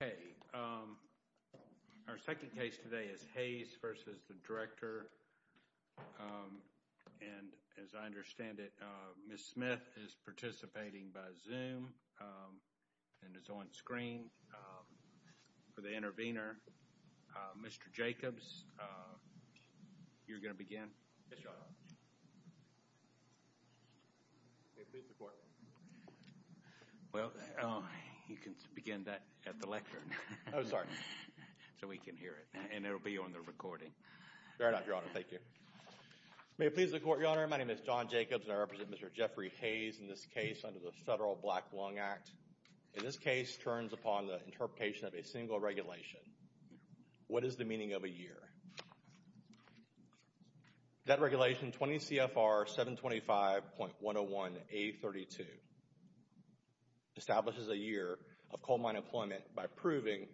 Hey, our second case today is Hayes v. Director, and as I understand it, Ms. Smith is participating by Zoom and is on screen for the intervener. Mr. Jacobs, you're going to begin. Yes, John. Please report. Well, you can begin that at the lectern. Oh, sorry. So we can hear it, and it will be on the recording. Very well, Your Honor. Thank you. May it please the Court, Your Honor. My name is John Jacobs, and I represent Mr. Jeffrey Hayes in this case under the Federal Black Lung Act. In this case, it turns upon the interpretation of a single regulation. What is the meaning of a year? That regulation, 20 CFR 725.101A32, establishes a year of coal mine employment by proving,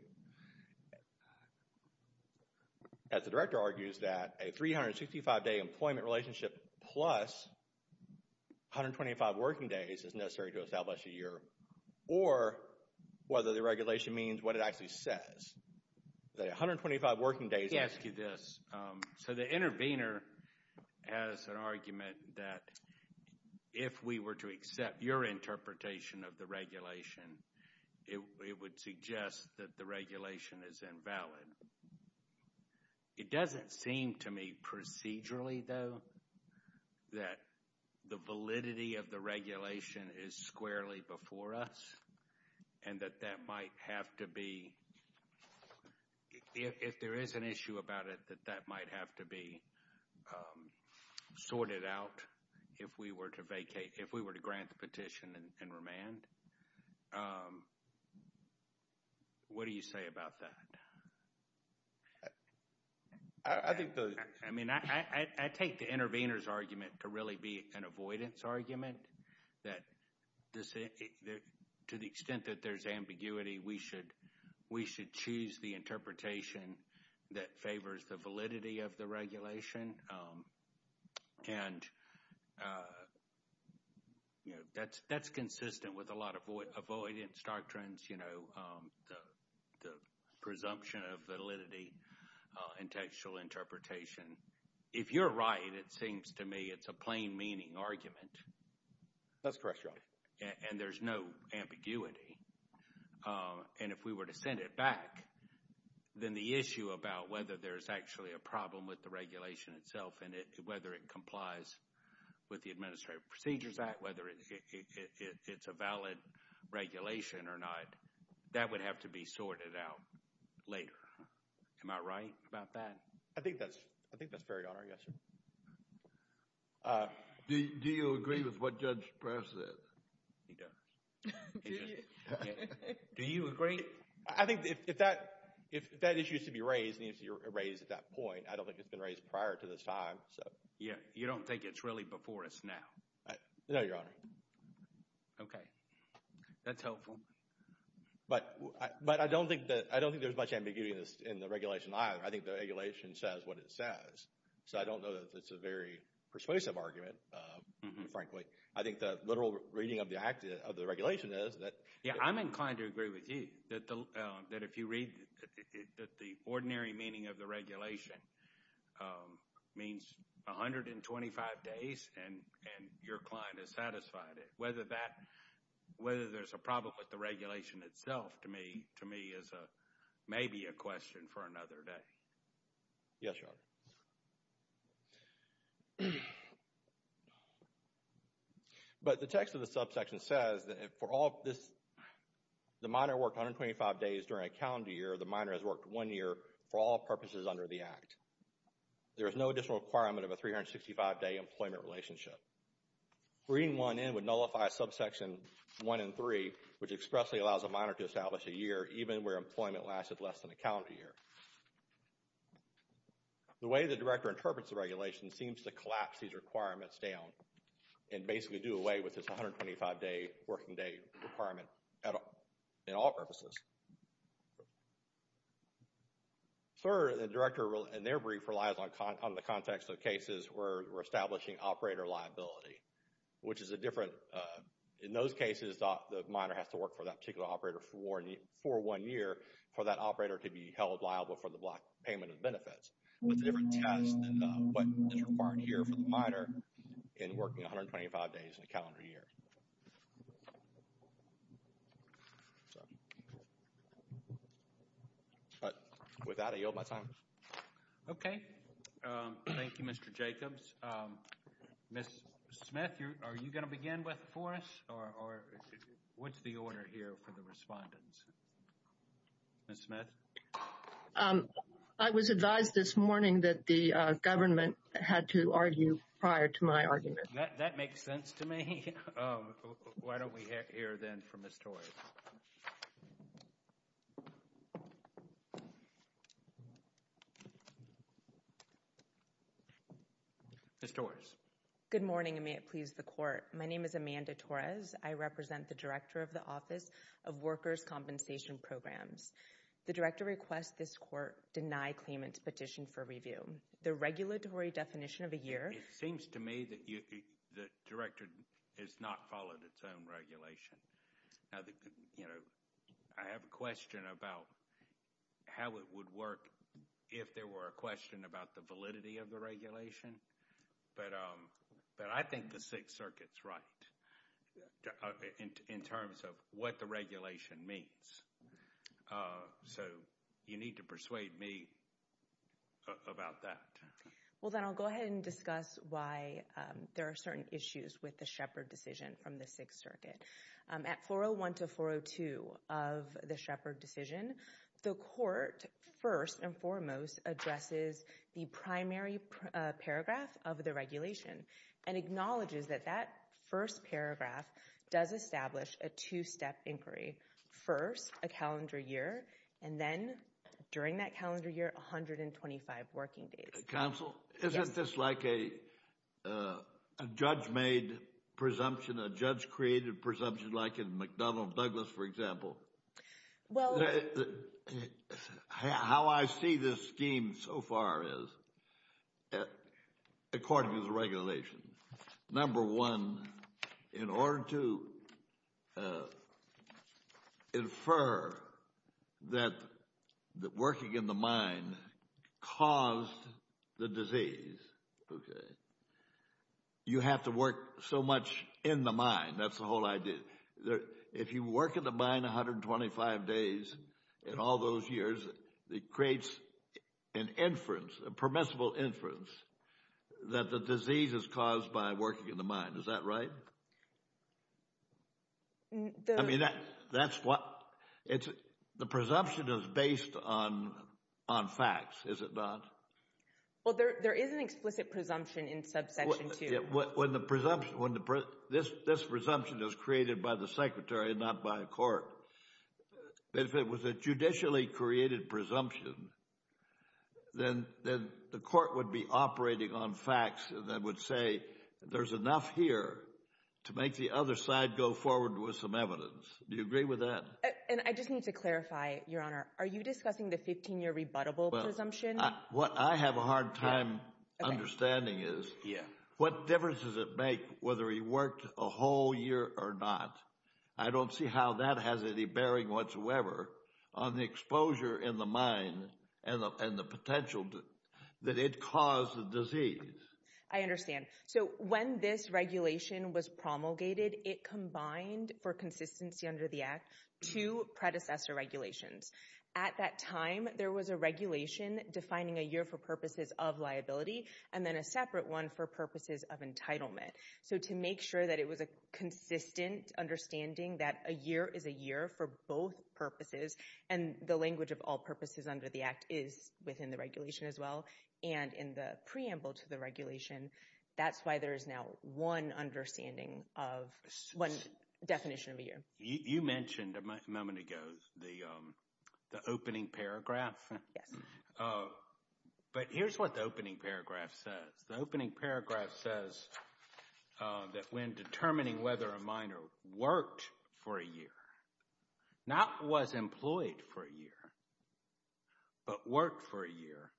as the Director argues, that a 365-day employment relationship plus 125 working days is necessary to establish a year, or whether the regulation means what it actually says, that 125 working days. Let me ask you this. So the intervener has an argument that if we were to accept your interpretation of the regulation, it would suggest that the regulation is invalid. It doesn't seem to me procedurally, though, that the validity of the regulation is squarely for us, and that that might have to be, if there is an issue about it, that that might have to be sorted out if we were to vacate, if we were to grant the petition and remand. What do you say about that? I mean, I take the intervener's argument to really be an avoidance argument, that to the extent that there's ambiguity, we should choose the interpretation that favors the validity of the regulation, and that's consistent with a lot of avoidance doctrines. You know, the presumption of validity and textual interpretation. If you're right, it seems to me it's a plain meaning argument. That's correct, Your Honor. And there's no ambiguity. And if we were to send it back, then the issue about whether there's actually a problem with the regulation itself, and whether it complies with the Administrative Procedures Act, whether it's a valid regulation or not, that would have to be sorted out later. Am I right about that? I think that's fair, Your Honor. Yes, sir. Do you agree with what Judge Press said? He does. Do you agree? I think if that issue is to be raised, and it's raised at that point, I don't think it's been raised prior to this time. You don't think it's really before us now? No, Your Honor. Okay. That's helpful. But I don't think there's much ambiguity in the regulation either. I think the regulation says what it says. So I don't know that it's a very persuasive argument, frankly. I think the literal reading of the regulation is that— Yeah, I'm inclined to agree with you, that if you read that the ordinary meaning of the 125 days and your client has satisfied it, whether there's a problem with the regulation itself, to me, is maybe a question for another day. Yes, Your Honor. But the text of the subsection says that the minor worked 125 days during a calendar year, the minor has worked one year for all purposes under the Act. There is no additional requirement of a 365-day employment relationship. Reading 1N would nullify subsection 1 and 3, which expressly allows a minor to establish a year even where employment lasted less than a calendar year. The way the Director interprets the regulation seems to collapse these requirements down and basically do away with this 125-day working day requirement in all purposes. Sir, the Director, in their brief, relies on the context of cases where we're establishing operator liability, which is a different—in those cases, the minor has to work for that particular operator for one year for that operator to be held liable for the block payment of benefits. It's a different test than what is required here for the minor in working 125 days in a calendar year. But with that, I yield my time. Okay. Thank you, Mr. Jacobs. Ms. Smith, are you going to begin with for us, or what's the order here for the respondents? Ms. Smith? I was advised this morning that the government had to argue prior to my argument. That makes sense to me. Why don't we hear then from Ms. Torres? Ms. Torres? Good morning, and may it please the Court. My name is Amanda Torres. I represent the Director of the Office of Workers' Compensation Programs. The Director requests this Court deny claimant's petition for review. The regulatory definition of a year— It seems to me that the Director has not followed its own regulation. I have a question about how it would work if there were a question about the validity of the regulation, but I think the Sixth Circuit's right in terms of what the regulation means. So you need to persuade me about that. Well, then I'll go ahead and discuss why there are certain issues with the Shepard decision from the Sixth Circuit. At 401 to 402 of the Shepard decision, the Court first and foremost addresses the primary paragraph of the regulation and acknowledges that that first paragraph does establish a two-step inquiry. First, a calendar year, and then during that calendar year, 125 working days. Counsel, isn't this like a judge-made presumption, a judge-created presumption like in McDonnell-Douglas, for example? How I see this scheme so far is, according to the regulation, number one, in order to infer that working in the mine caused the disease, you have to work so much in the mine. That's the whole idea. If you work in the mine 125 days in all those years, it creates an inference, a permissible inference, that the disease is caused by working in the mine. Is that right? I mean, that's what—the presumption is based on facts, is it not? Well, there is an explicit presumption in Subsection 2. When the presumption—this presumption is created by the Secretary and not by a court. If it was a judicially created presumption, then the court would be operating on facts that would say there's enough here to make the other side go forward with some evidence. Do you agree with that? And I just need to clarify, Your Honor. Are you discussing the 15-year rebuttable presumption? What I have a hard time understanding is what difference does it make whether he worked a whole year or not? I don't see how that has any bearing whatsoever on the exposure in the mine and the potential that it caused the disease. I understand. So when this regulation was promulgated, it combined, for consistency under the Act, two predecessor regulations. At that time, there was a regulation defining a year for purposes of liability and then a separate one for purposes of entitlement. So to make sure that it was a consistent understanding that a year is a year for both purposes and the language of all purposes under the Act is within the regulation as well and in the preamble to the regulation. That's why there is now one understanding of one definition of a year. You mentioned a moment ago the opening paragraph. Yes. But here's what the opening paragraph says. The opening paragraph says that when determining whether a miner worked for a year, not was employed for a year, but worked for a year,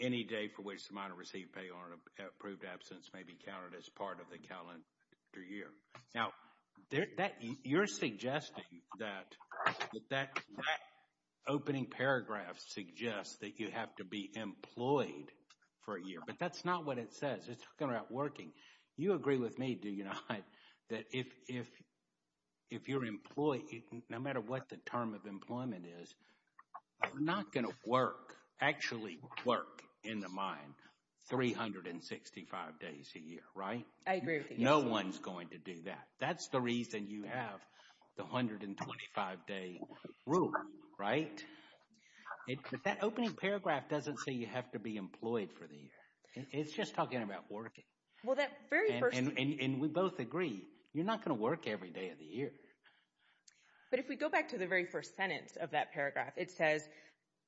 any day for which the miner received pay or an approved absence may be counted as part of the calendar year. Now, you're suggesting that that opening paragraph suggests that you have to be employed for a year. But that's not what it says. It's talking about working. You agree with me, do you not, that if you're employed, no matter what the term of employment is, you're not going to work, actually work in the mine 365 days a year, right? I agree with you. No one's going to do that. That's the reason you have the 125-day rule, right? But that opening paragraph doesn't say you have to be employed for the year. It's just talking about working. And we both agree, you're not going to work every day of the year. But if we go back to the very first sentence of that paragraph, it says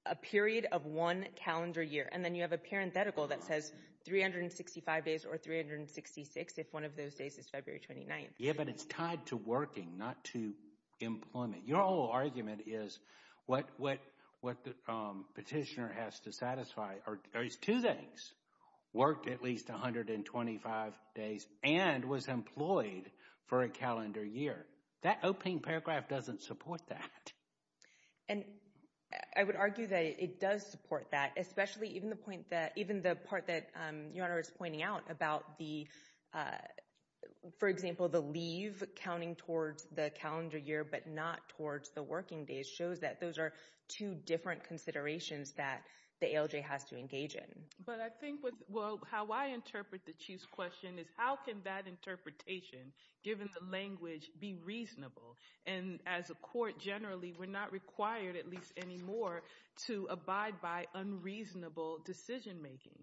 a period of one calendar year, and then you have a parenthetical that says 365 days or 366 if one of those days is February 29th. Yeah, but it's tied to working, not to employment. Your whole argument is what the petitioner has to satisfy are these two things, worked at least 125 days and was employed for a calendar year. That opening paragraph doesn't support that. And I would argue that it does support that, especially even the part that Your Honor is pointing out about the, for example, the leave counting towards the calendar year but not towards the working days, shows that those are two different considerations that the ALJ has to engage in. But I think how I interpret the Chief's question is how can that interpretation, given the language, be reasonable? And as a court, generally, we're not required, at least anymore, to abide by unreasonable decision-making.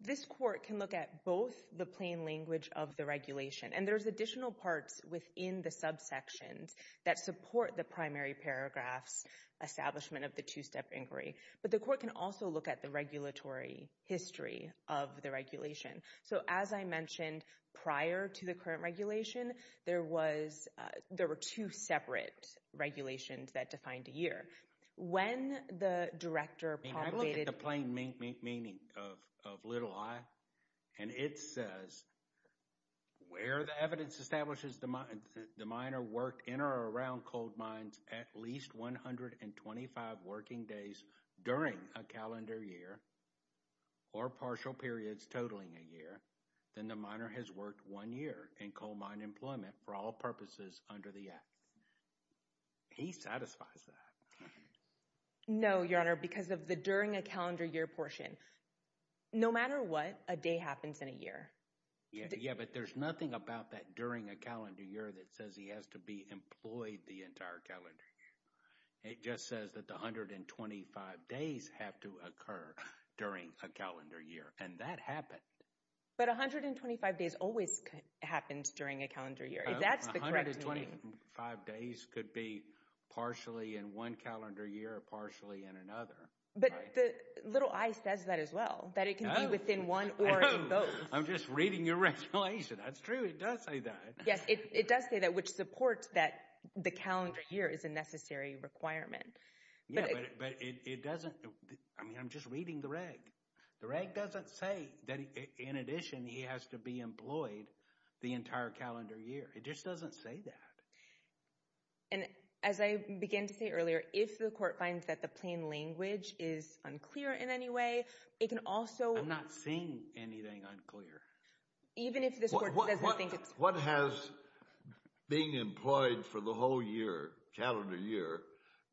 This court can look at both the plain language of the regulation, and there's additional parts within the subsections that support the primary paragraph's establishment of the two-step inquiry. But the court can also look at the regulatory history of the regulation. So as I mentioned, prior to the current regulation, there were two separate regulations that defined a year. When the director promulgated— I mean, I look at the plain meaning of little i, and it says, where the evidence establishes the miner worked in or around coal mines at least 125 working days during a calendar year or partial periods totaling a year, then the miner has worked one year in coal mine employment for all purposes under the Act. He satisfies that. No, Your Honor, because of the during a calendar year portion. No matter what, a day happens in a year. Yeah, but there's nothing about that during a calendar year that says he has to be employed the entire calendar year. It just says that the 125 days have to occur during a calendar year, and that happened. But 125 days always happens during a calendar year. That's the correct meaning. 125 days could be partially in one calendar year or partially in another. But the little i says that as well, that it can be within one or in both. I'm just reading your regulation. That's true. It does say that. Yes, it does say that, which supports that the calendar year is a necessary requirement. Yeah, but it doesn't—I mean, I'm just reading the reg. The reg doesn't say that, in addition, he has to be employed the entire calendar year. It just doesn't say that. And as I began to say earlier, if the court finds that the plain language is unclear in any way, it can also— I'm not seeing anything unclear. Even if this court doesn't think it's— What has being employed for the whole year, calendar year,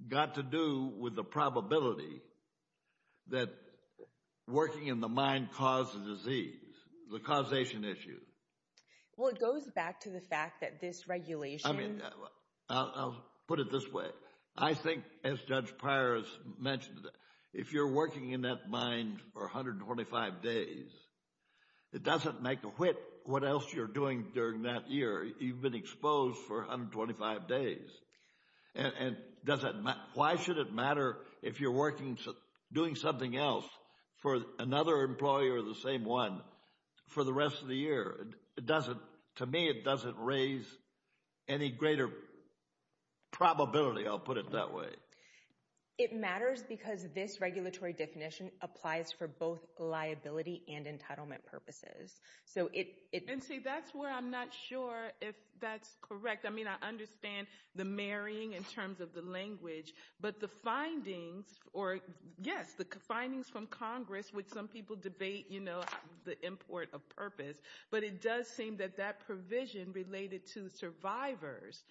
got to do with the probability that working in the mine causes disease, the causation issue? Well, it goes back to the fact that this regulation— I mean, I'll put it this way. I think, as Judge Pryor has mentioned, if you're working in that mine for 125 days, it doesn't make a whit what else you're doing during that year. You've been exposed for 125 days. And why should it matter if you're working, doing something else for another employee or the same one for the rest of the year? It doesn't—to me, it doesn't raise any greater probability, I'll put it that way. It matters because this regulatory definition applies for both liability and entitlement purposes. So it— And see, that's where I'm not sure if that's correct. I mean, I understand the marrying in terms of the language, but the findings— or, yes, the findings from Congress, which some people debate, you know, the import of purpose. But it does seem that that provision related to survivors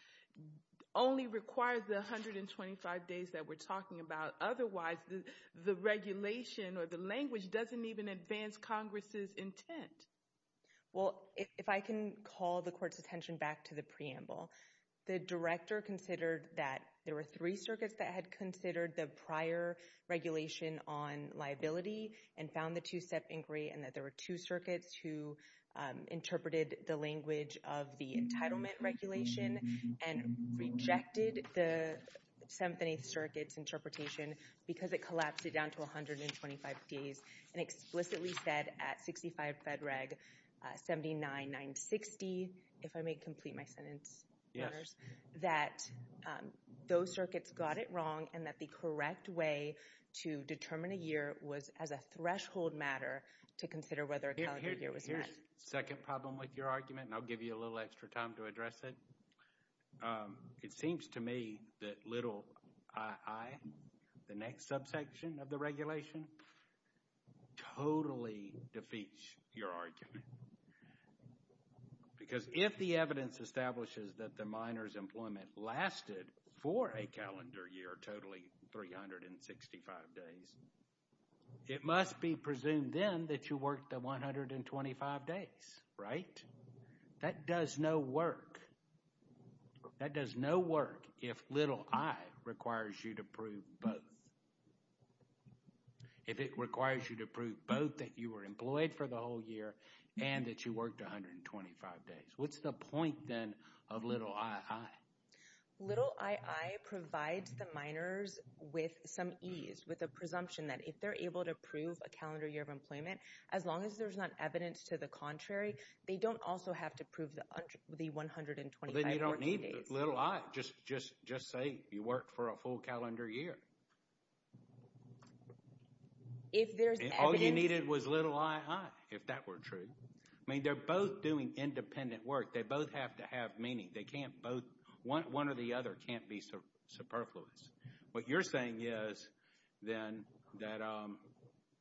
only requires the 125 days that we're talking about. Otherwise, the regulation or the language doesn't even advance Congress's intent. Well, if I can call the Court's attention back to the preamble, the Director considered that there were three circuits that had considered the prior regulation on liability and found the two-step inquiry and that there were two circuits who interpreted the language of the entitlement regulation and rejected the Seventh and Eighth Circuit's interpretation because it collapsed it down to 125 days and explicitly said at 65 Fed Reg 79-960, if I may complete my sentence, that those circuits got it wrong and that the correct way to determine a year was as a threshold matter to consider whether a calendar year was met. Here's the second problem with your argument, and I'll give you a little extra time to address it. It seems to me that little ii, the next subsection of the regulation, totally defeats your argument. Why? Because if the evidence establishes that the minor's employment lasted for a calendar year totally 365 days, it must be presumed then that you worked the 125 days, right? That does no work. That does no work if little ii requires you to prove both. If it requires you to prove both that you were employed for the whole year and that you worked 125 days. What's the point then of little ii? Little ii provides the minors with some ease, with a presumption that if they're able to prove a calendar year of employment, as long as there's not evidence to the contrary, they don't also have to prove the 125 working days. You don't need little ii. Just say you worked for a full calendar year. If there's evidence... All you needed was little ii, if that were true. I mean, they're both doing independent work. They both have to have meaning. One or the other can't be superfluous. What you're saying is then that,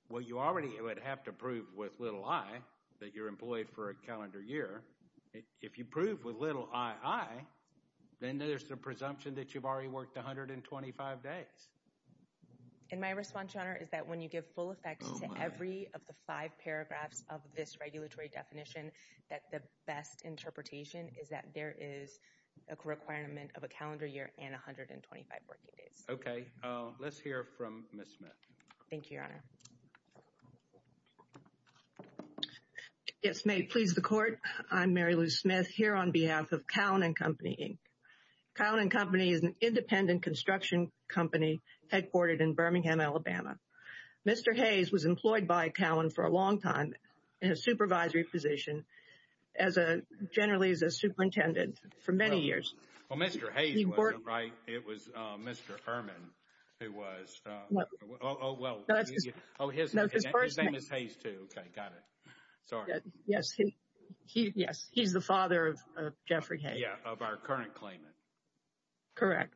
well, you already would have to prove with little ii that you're employed for a calendar year. If you prove with little ii, then there's the presumption that you've already worked 125 days. And my response, Your Honor, is that when you give full effect to every of the five paragraphs of this regulatory definition, that the best interpretation is that there is a requirement of a calendar year and 125 working days. Okay. Let's hear from Ms. Smith. Thank you, Your Honor. Yes, may it please the Court. I'm Mary Lou Smith here on behalf of Cowan & Company, Inc. Cowan & Company is an independent construction company headquartered in Birmingham, Alabama. Mr. Hayes was employed by Cowan for a long time in a supervisory position, generally as a superintendent, for many years. Well, Mr. Hayes was, right? It was Mr. Herman who was. Oh, well, his name is Hayes, too. Okay, got it. Sorry. Yes, he's the father of Jeffrey Hayes. Yeah, of our current claimant. Correct.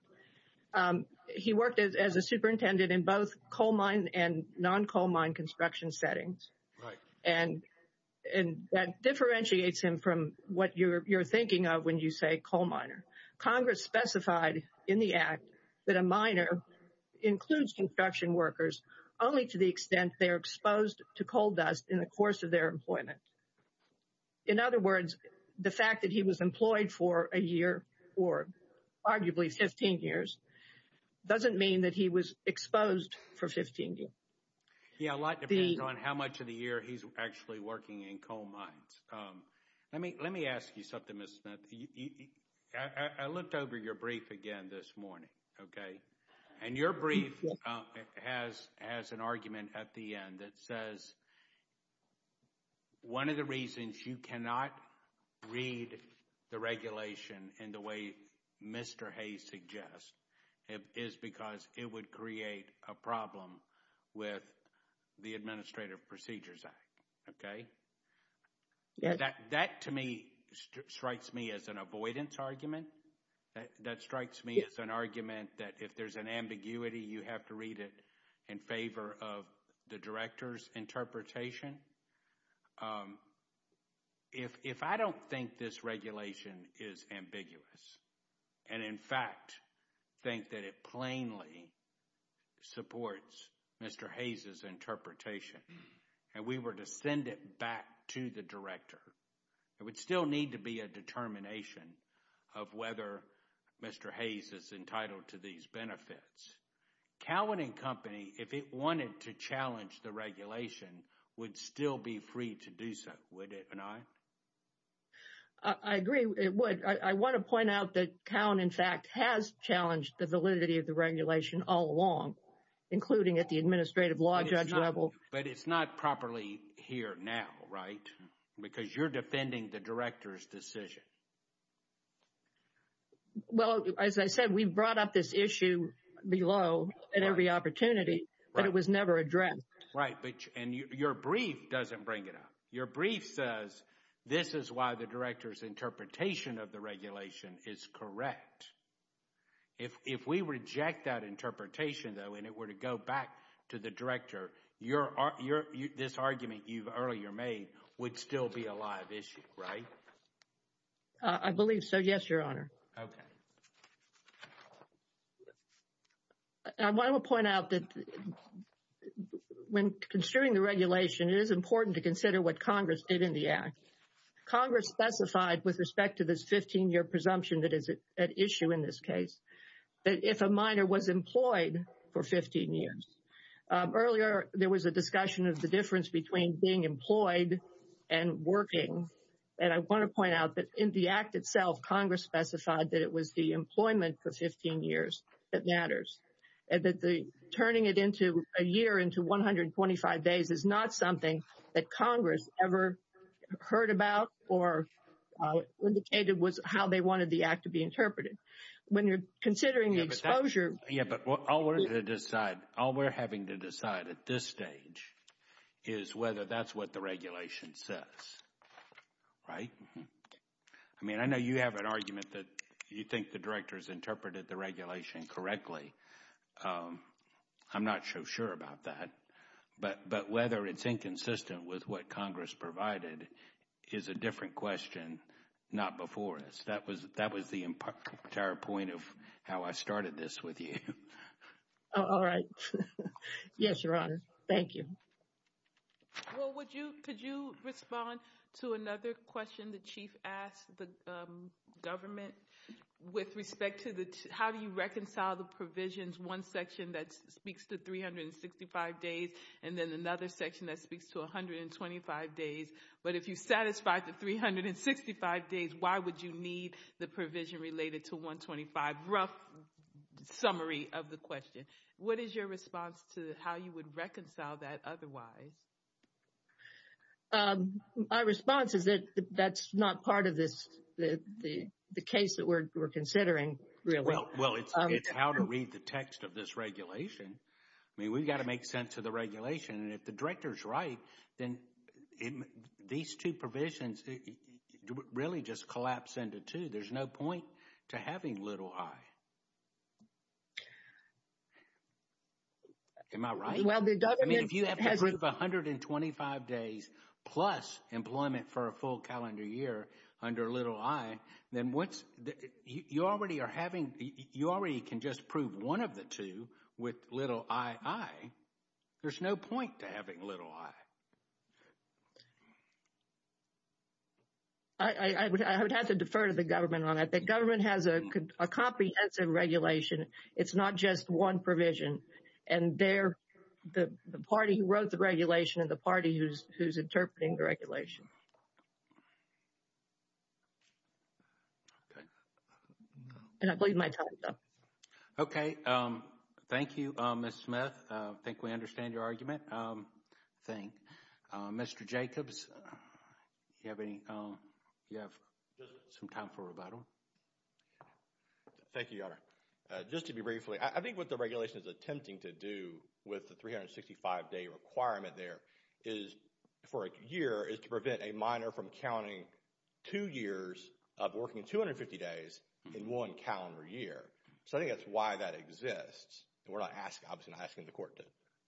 He worked as a superintendent in both coal mine and non-coal mine construction settings. Right. And that differentiates him from what you're thinking of when you say coal miner. Congress specified in the Act that a miner includes construction workers only to the extent they are exposed to coal dust in the course of their employment. In other words, the fact that he was employed for a year or arguably 15 years doesn't mean that he was exposed for 15 years. Yeah, a lot depends on how much of the year he's actually working in coal mines. Let me ask you something, Ms. Smith. I looked over your brief again this morning, okay? And your brief has an argument at the end that says one of the reasons you cannot read the regulation in the way Mr. Hayes suggests is because it would create a problem with the Administrative Procedures Act, okay? That, to me, strikes me as an avoidance argument. That strikes me as an argument that if there's an ambiguity, you have to read it in favor of the director's interpretation. If I don't think this regulation is ambiguous and, in fact, think that it plainly supports Mr. Hayes' interpretation and we were to send it back to the director, it would still need to be a determination of whether Mr. Hayes is entitled to these benefits. Cowan & Company, if it wanted to challenge the regulation, would still be free to do so, would it not? I agree it would. I want to point out that Cowan, in fact, has challenged the validity of the regulation all along, including at the administrative law judge level. But it's not properly here now, right? Because you're defending the director's decision. Well, as I said, we brought up this issue below at every opportunity, but it was never addressed. Right, and your brief doesn't bring it up. Your brief says this is why the director's interpretation of the regulation is correct. If we reject that interpretation, though, and it were to go back to the director, this argument you earlier made would still be a live issue, right? I believe so, yes, Your Honor. Okay. I want to point out that when considering the regulation, it is important to consider what Congress did in the Act. Congress specified with respect to this 15-year presumption that is at issue in this case, that if a minor was employed for 15 years, earlier there was a discussion of the difference between being employed and working. And I want to point out that in the Act itself, Congress specified that it was the employment for 15 years that matters. And that turning it into a year into 125 days is not something that Congress ever heard about or indicated was how they wanted the Act to be interpreted. When you're considering the exposure... Yeah, but all we're having to decide at this stage is whether that's what the regulation says, right? I mean, I know you have an argument that you think the director's interpreted the regulation correctly. I'm not so sure about that. But whether it's inconsistent with what Congress provided is a different question, not before us. That was the entire point of how I started this with you. All right. Yes, Your Honor. Thank you. Well, could you respond to another question the Chief asked the government with respect to how do you reconcile the provisions? One section that speaks to 365 days and then another section that speaks to 125 days. But if you satisfy the 365 days, why would you need the provision related to 125? Rough summary of the question. What is your response to how you would reconcile that otherwise? My response is that that's not part of the case that we're considering, really. Well, it's how to read the text of this regulation. I mean, we've got to make sense of the regulation. And if the director's right, then these two provisions really just collapse into two. There's no point to having little i. Am I right? Well, the government has— I mean, if you have to approve 125 days plus employment for a full calendar year under little i, then you already can just prove one of the two with little ii. There's no point to having little i. I would have to defer to the government on that. The government has a comprehensive regulation. It's not just one provision. And they're the party who wrote the regulation and the party who's interpreting the regulation. Okay. And I believe my time is up. Okay. Thank you, Ms. Smith. I think we understand your argument. I think. Mr. Jacobs, do you have any—do you have some time for rebuttal? Thank you, Your Honor. Just to be briefly, I think what the regulation is attempting to do with the 365-day requirement there is, for a year, is to prevent a minor from counting two years of working 250 days in one calendar year. So I think that's why that exists. And we're not asking—obviously not asking the court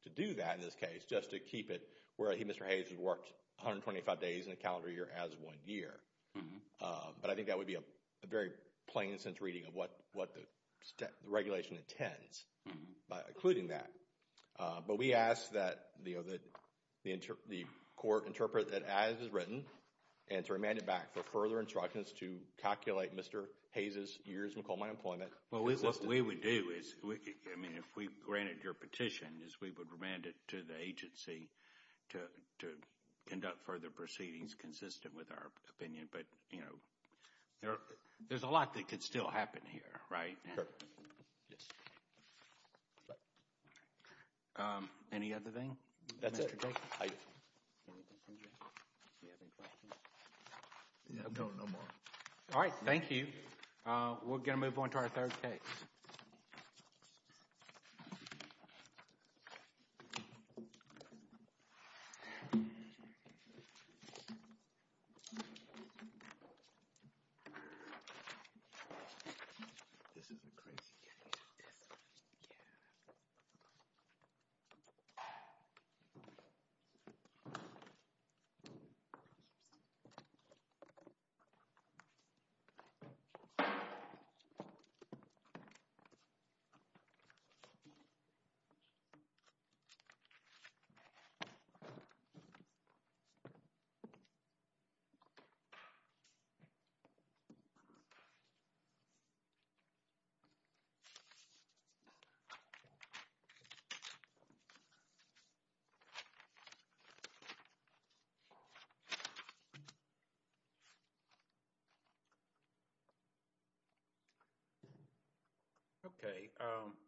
to do that in this case, just to keep it where Mr. Hayes has worked 125 days in a calendar year as one year. But I think that would be a very plain sense reading of what the regulation intends, including that. But we ask that the court interpret it as is written and to remand it back for further instructions to calculate Mr. Hayes' years in coal mine employment. What we would do is, I mean, if we granted your petition, is we would remand it to the agency to conduct further proceedings consistent with our opinion. But, you know, there's a lot that could still happen here, right? Sure. Yes. Any other thing? That's it. No, no more. All right. Thank you. We're going to move on to our third case. All right. This is a crazy case. Yeah. Okay. All right.